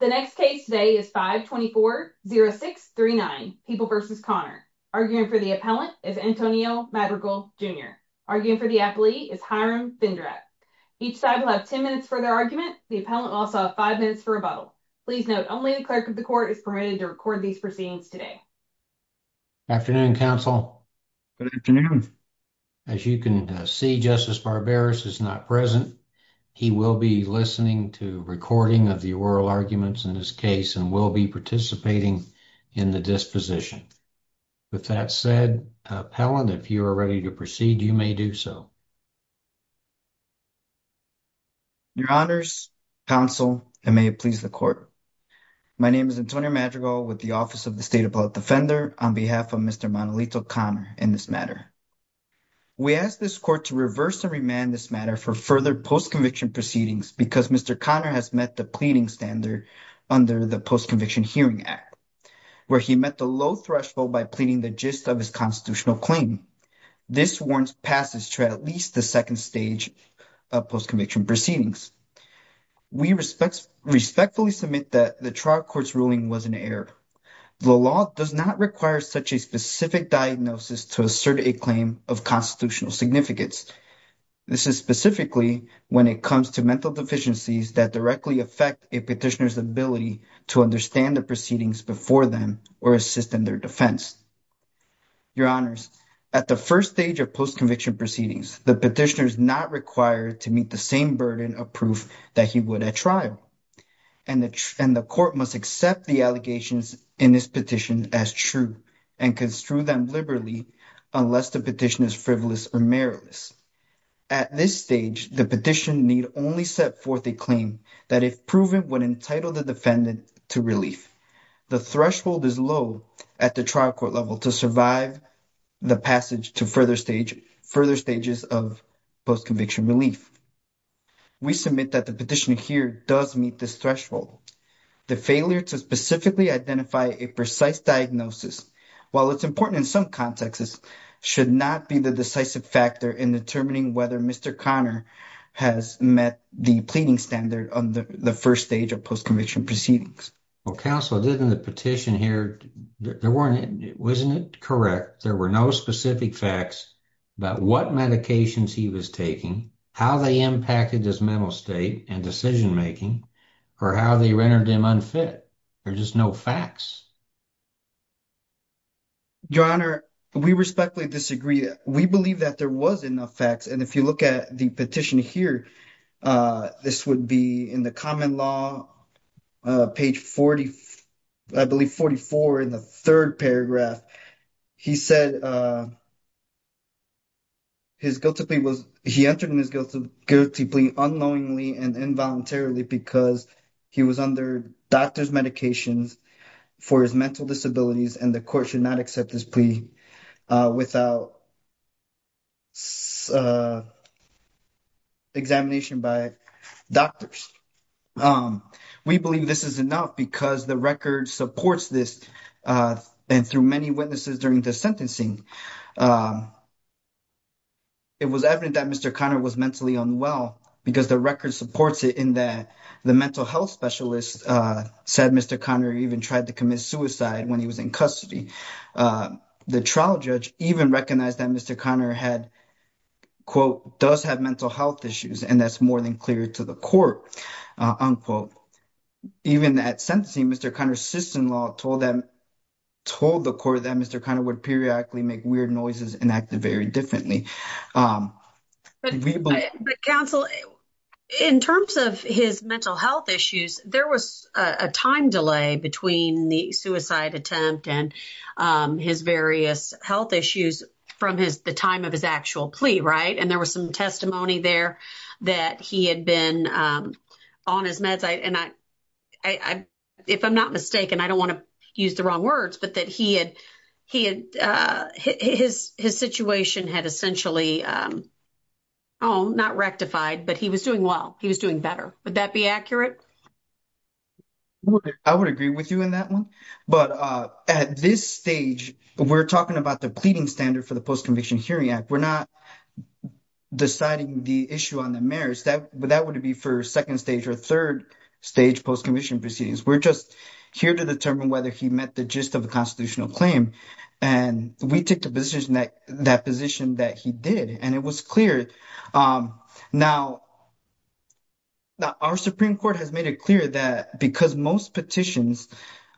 The next case today is 524-0639, People v. Conner. Arguing for the appellant is Antonio Madrigal, Jr. Arguing for the appellee is Hiram Bindrak. Each side will have 10 minutes for their argument. The appellant will also have 5 minutes for rebuttal. Please note, only the clerk of the court is permitted to record these proceedings today. Afternoon, counsel. Good afternoon. As you can see, Justice Barberis is not present. He will be listening to recording of the oral arguments in this case and will be participating in the disposition. With that said, appellant, if you are ready to proceed, you may do so. Your honors, counsel, and may it please the court. My name is Antonio Madrigal with the Office of the State Appellate Defender on behalf of Mr. Manolito Conner in this matter. We ask this court to reverse and remand this matter for further post-conviction proceedings because Mr. Conner has met the pleading standard under the Post-Conviction Hearing Act where he met the low threshold by pleading the gist of his constitutional claim. This warrant passes to at least the second stage of post-conviction proceedings. We respectfully submit that the trial court's ruling was an error. The law does not require such a specific diagnosis to assert a claim of constitutional significance. This is specifically when it comes to mental deficiencies that directly affect a petitioner's ability to understand the proceedings before them or assist in their defense. Your honors, at the first stage of post-conviction proceedings, the petitioner is not required to meet the same burden of proof that he would at trial and the court must accept the allegations in this petition as true and construe them liberally unless the petition is frivolous or meritless. At this stage, the petitioner need only set forth a claim that if proven would entitle the defendant to relief. The threshold is low at the trial court level to survive the passage to further stages of post-conviction relief. We submit that the petitioner here does meet this threshold. The failure to specifically identify a precise diagnosis, while it's important in some contexts, should not be the decisive factor in determining whether Mr. Conner has met the pleading standard on the first stage of post-conviction proceedings. Well, counsel, in the petition here, wasn't it correct, there were no specific facts about what medications he was taking, how they impacted his mental state and decision-making, or how they rendered him unfit? There's just no facts. Your honor, we respectfully disagree. We believe that there was enough facts, and if you look at the petition here, this would be in the common law, page 40, I believe 44 in the third paragraph. He said he entered in his guilty plea unknowingly and involuntarily because he was under doctor's medications for his mental disabilities, and the court should not accept this plea without examination by doctors. We believe this is enough because the record supports this, and through many witnesses during the sentencing, it was evident that Mr. Conner was mentally unwell because the record supports it in that the mental health specialist said Mr. Conner even tried to commit suicide when he was in custody. The trial judge even recognized that Mr. Conner had, quote, does have mental health issues, and that's more than clear to the court, unquote. Even at sentencing, Mr. Conner's sister-in-law told the court that Mr. Conner would periodically make weird noises and act very differently. But counsel, in terms of his mental health issues, there was a time delay between the suicide attempt and his various health issues from the time of his actual plea, right? And there was some testimony there that he had been on his meds, and if I'm not mistaken, I don't want to use the wrong words, but that his situation had essentially, oh, not rectified, but he was doing well. He was doing better. Would that be accurate? I would agree with you on that one. But at this stage, we're talking about the pleading standard for the Post-Conviction Hearing Act. We're not deciding the issue on the merits. That would be for second stage or third stage post-conviction proceedings. We're just here to determine whether he met the gist of a constitutional claim. And we took the position that he did, and it was clear. Now, our Supreme Court has made it clear that because most petitions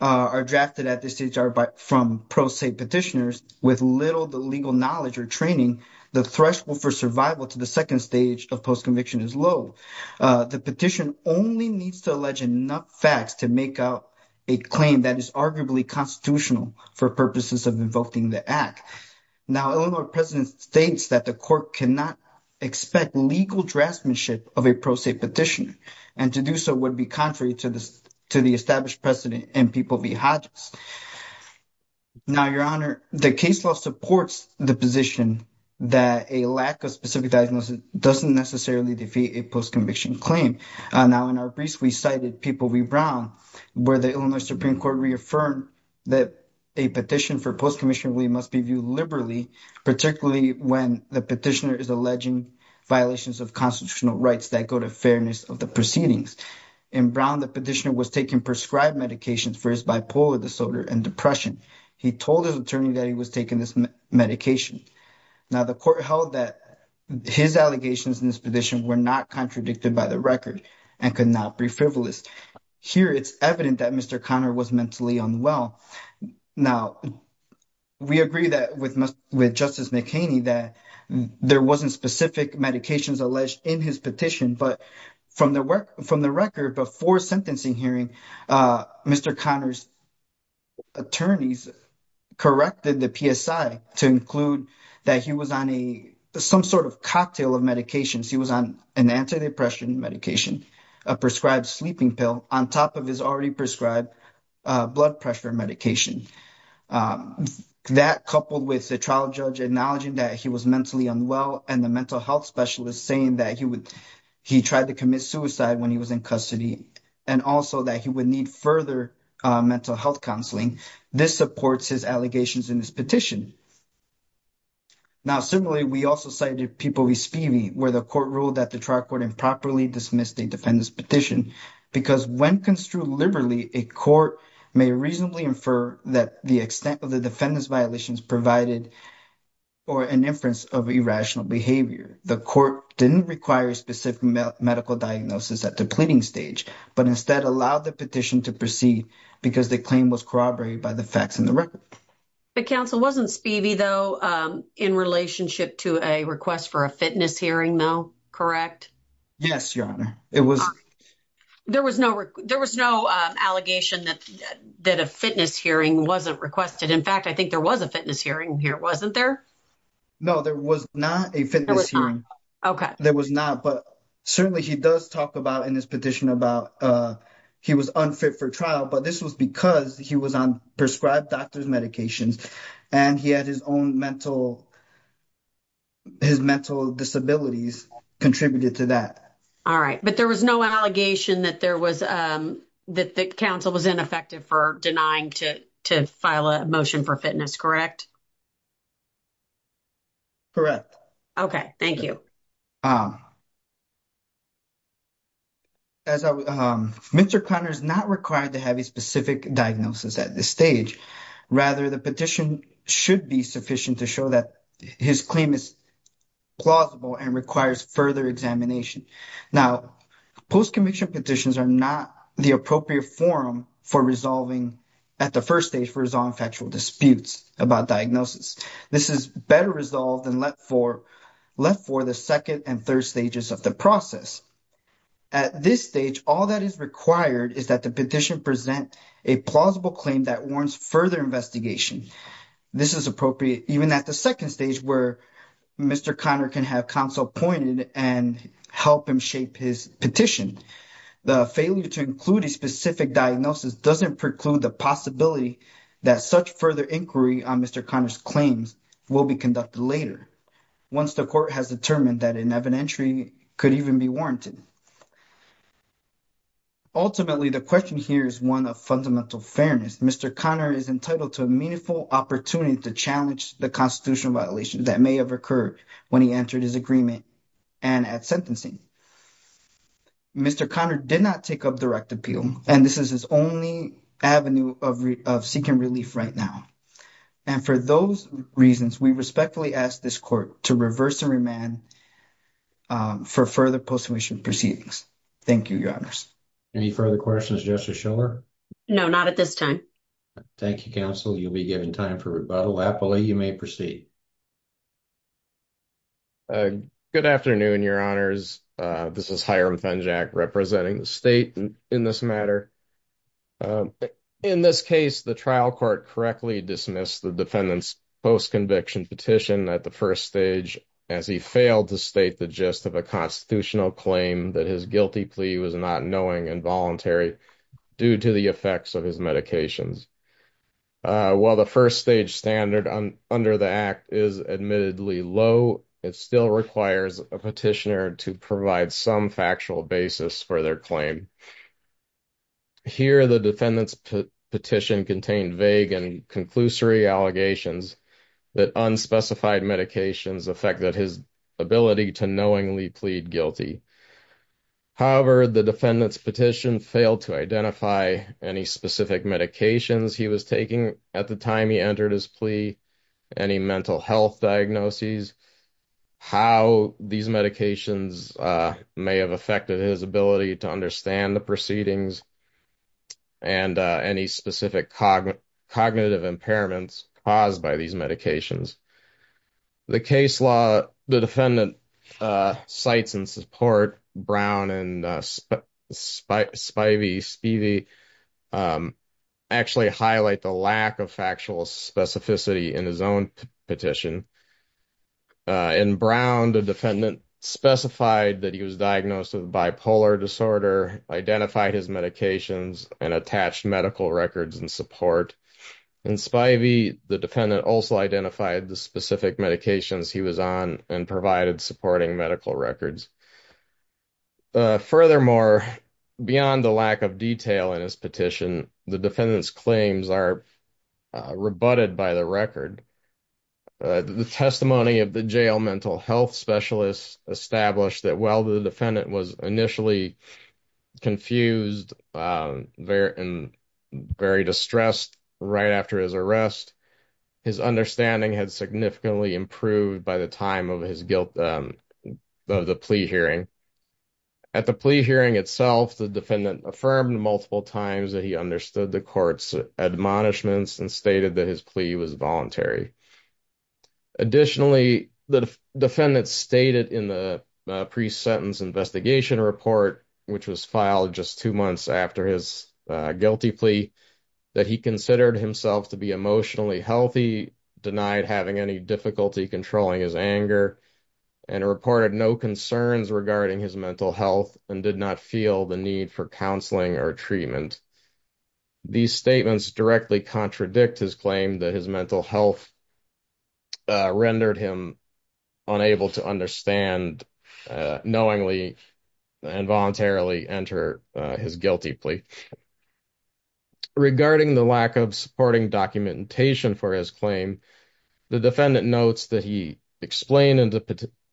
are drafted at this stage from pro se petitioners with little legal knowledge or training, the threshold for survival to the second stage of post-conviction is low. The petition only needs to allege enough facts to make out a claim that is arguably constitutional for purposes of invoking the act. Now, Illinois President states that the court cannot expect legal draftsmanship of a pro se petition, and to do so would be contrary to the established precedent in people v. Hodges. Now, Your Honor, the case law supports the position that a lack of specific diagnosis doesn't necessarily defeat a post-conviction claim. Now, in our briefs, we cited people v. Brown, where the Illinois Supreme Court reaffirmed that a petition for post-conviction must be viewed liberally, particularly when the petitioner is alleging violations of constitutional rights that go to fairness of the proceedings. In Brown, the petitioner was taking prescribed medications for his bipolar disorder and depression. He told his attorney that he was taking this medication. Now, the court held that his allegations in this petition were not contradicted by the record and could not be frivolous. Here, it's evident that Mr. Conner was mentally unwell. Now, we agree with Justice McHaney that there wasn't specific medications alleged in his petition, but from the record, before sentencing hearing, Mr. Conner's attorneys corrected the PSI to include that he was on some sort of cocktail of medications. He was on an antidepressant medication, a prescribed sleeping pill, on top of his already prescribed blood pressure medication. That, coupled with the trial judge acknowledging that he was mentally unwell and the mental health specialist saying that he tried to commit suicide when he was in custody, and also that he would need further mental health counseling, this supports his allegations in this petition. Now, similarly, we also cited People v. Spivey, where the court ruled that the trial court improperly dismissed the defendant's petition, because when construed liberally, a court may reasonably infer that the extent of the defendant's violations provided for an inference of irrational behavior. The court didn't require a specific medical diagnosis at the pleading stage, but instead allowed the petition to proceed because the claim was corroborated by the facts in the record. But, Counsel, wasn't Spivey, though, in relationship to a request for a fitness hearing, though, correct? Yes, Your Honor, it was. There was no allegation that a fitness hearing wasn't requested. In fact, I think there was a fitness hearing here, wasn't there? No, there was not a fitness hearing. There was not, but certainly he does talk about in his petition about he was unfit for trial, but this was because he was on prescribed doctor's medications and he had his own mental disabilities contributed to that. All right, but there was no allegation that the counsel was ineffective for denying to file a motion for fitness, correct? Correct. Okay, thank you. Mr. Conner is not required to have a specific diagnosis at this stage. Rather, the petition should be sufficient to show that his claim is plausible and requires further examination. Now, post-conviction petitions are not the appropriate forum for resolving, at the first stage, for resolving factual disputes about diagnosis. This is better resolved and left for the second and third stages of the process. At this stage, all that is required is that the petition present a plausible claim that warrants further investigation. This is appropriate even at the second stage, where Mr. Conner can have counsel appointed and help him shape his petition. The failure to include a specific diagnosis doesn't preclude the possibility that such further inquiry on Mr. Conner's claims will be conducted later, once the court has determined that an evidentiary could even be warranted. Ultimately, the question here is one of fundamental fairness. Mr. Conner is entitled to a meaningful opportunity to challenge the constitutional violations that may have occurred when he entered his agreement and at sentencing. Mr. Conner did not take up direct appeal, and this is his only avenue of seeking relief right now. And for those reasons, we respectfully ask this court to reverse and remand for further post-conviction proceedings. Thank you, Your Honors. Any further questions, Justice Schiller? No, not at this time. Thank you, Counsel. You'll be given time for rebuttal. Happily, you may proceed. Good afternoon, Your Honors. This is Hiram Fenjack representing the state in this matter. In this case, the trial court correctly dismissed the defendant's post-conviction petition at the first stage, as he failed to state the gist of a constitutional claim that his guilty plea was not knowing and voluntary due to the effects of his medications. While the first-stage standard under the Act is admittedly low, it still requires a petitioner to provide some factual basis for their claim. Here, the defendant's petition contained vague and conclusory allegations that unspecified medications affected his ability to knowingly plead guilty. However, the defendant's petition failed to identify any specific medications he was taking at the time he entered his plea, any mental health diagnoses, how these medications may have affected his ability to understand the proceedings, and any specific cognitive impairments caused by these medications. The case law the defendant cites in support, Brown and Spivey actually highlight the lack of factual specificity in his own petition. In Brown, the defendant specified that he was diagnosed with bipolar disorder, identified his medications, and attached medical records in support. In Spivey, the defendant also identified the specific medications he was on and provided supporting medical records. Furthermore, beyond the lack of detail in his petition, the defendant's claims are rebutted by the record. The testimony of the jail mental health specialist established that while the defendant was initially confused and very distressed right after his arrest, his understanding had significantly improved by the time of the plea hearing. At the plea hearing itself, the defendant affirmed multiple times that he understood the court's admonishments and stated that his plea was voluntary. Additionally, the defendant stated in the pre-sentence investigation report, which was filed just two months after his guilty plea, that he considered himself to be emotionally healthy, denied having any difficulty controlling his anger, and reported no concerns regarding his mental health and did not feel the need for counseling or treatment. These statements directly contradict his claim that his mental health rendered him unable to understand knowingly and voluntarily enter his guilty plea. Regarding the lack of supporting documentation for his claim, the defendant notes that he explained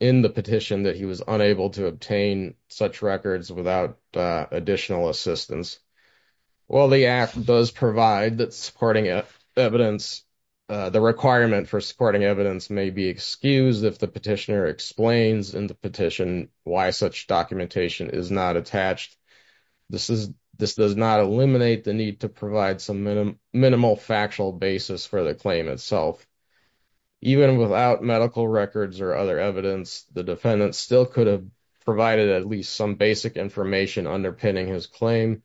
in the petition that he was unable to obtain such records without additional assistance. While the act does provide that supporting evidence, the requirement for supporting evidence may be excused if the petitioner explains in the petition why such documentation is not attached. This does not eliminate the need to provide some minimal factual basis for the claim itself. Even without medical records or other evidence, the defendant still could have provided at least some basic information underpinning his claim,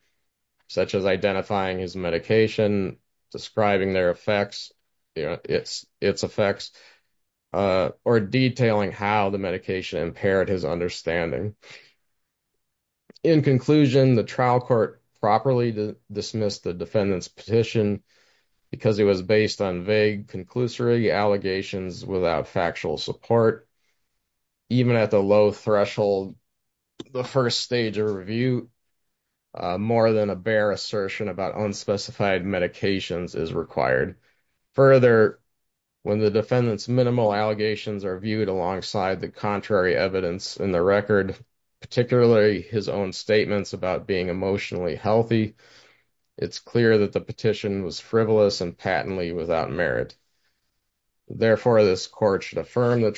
such as identifying his medication, describing its effects, or detailing how the medication impaired his understanding. In conclusion, the trial court properly dismissed the defendant's petition because it was based on vague conclusory allegations without factual support. Even at the low threshold, the first stage of review, more than a bare assertion about unspecified medications is required. Further, when the defendant's minimal allegations are viewed alongside the contrary evidence in the record, particularly his own statements about being emotionally healthy, it's clear that the petition was frivolous and patently without merit. Therefore, this court should affirm the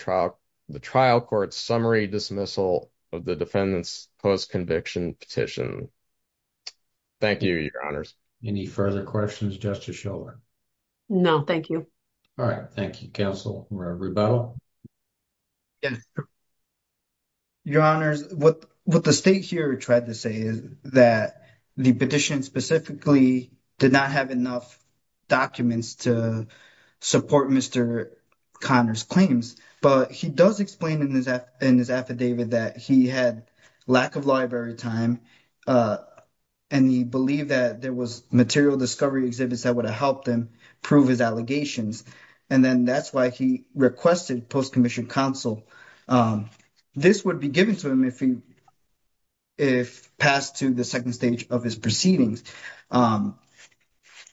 trial court's summary dismissal of the defendant's post-conviction petition. Thank you, Your Honors. Any further questions, Justice Schiller? No, thank you. All right, thank you, Counsel Roberto. Yes, Your Honors. What the state here tried to say is that the petition specifically did not have enough documents to support Mr. Conner's claims. But he does explain in his affidavit that he had lack of library time, and he believed that there was material discovery exhibits that would have helped him prove his allegations. And then that's why he requested post-conviction counsel. This would be given to him if passed to the second stage of his proceedings.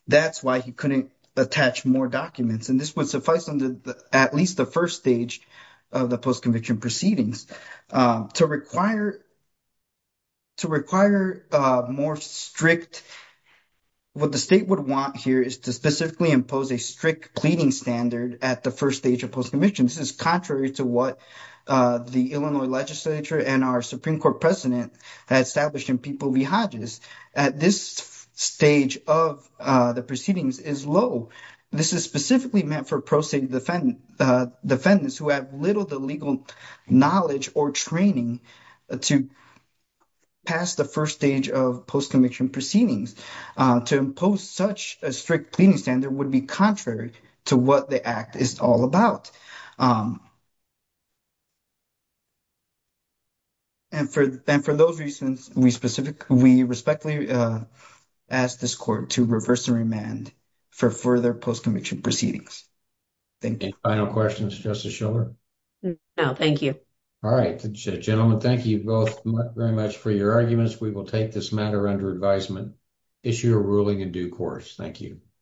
That's why he couldn't attach more documents. And this would suffice under at least the first stage of the post-conviction proceedings. To require more strict – what the state would want here is to specifically impose a strict pleading standard at the first stage of post-conviction. This is contrary to what the Illinois legislature and our Supreme Court president had established in People v. Hodges. This stage of the proceedings is low. This is specifically meant for pro-state defendants who have little to legal knowledge or training to pass the first stage of post-conviction proceedings. To impose such a strict pleading standard would be contrary to what the Act is all about. And for those reasons, we respectfully ask this court to reverse the remand for further post-conviction proceedings. Any final questions, Justice Shiller? No, thank you. All right. Gentlemen, thank you both very much for your arguments. We will take this matter under advisement, issue a ruling in due course. Thank you.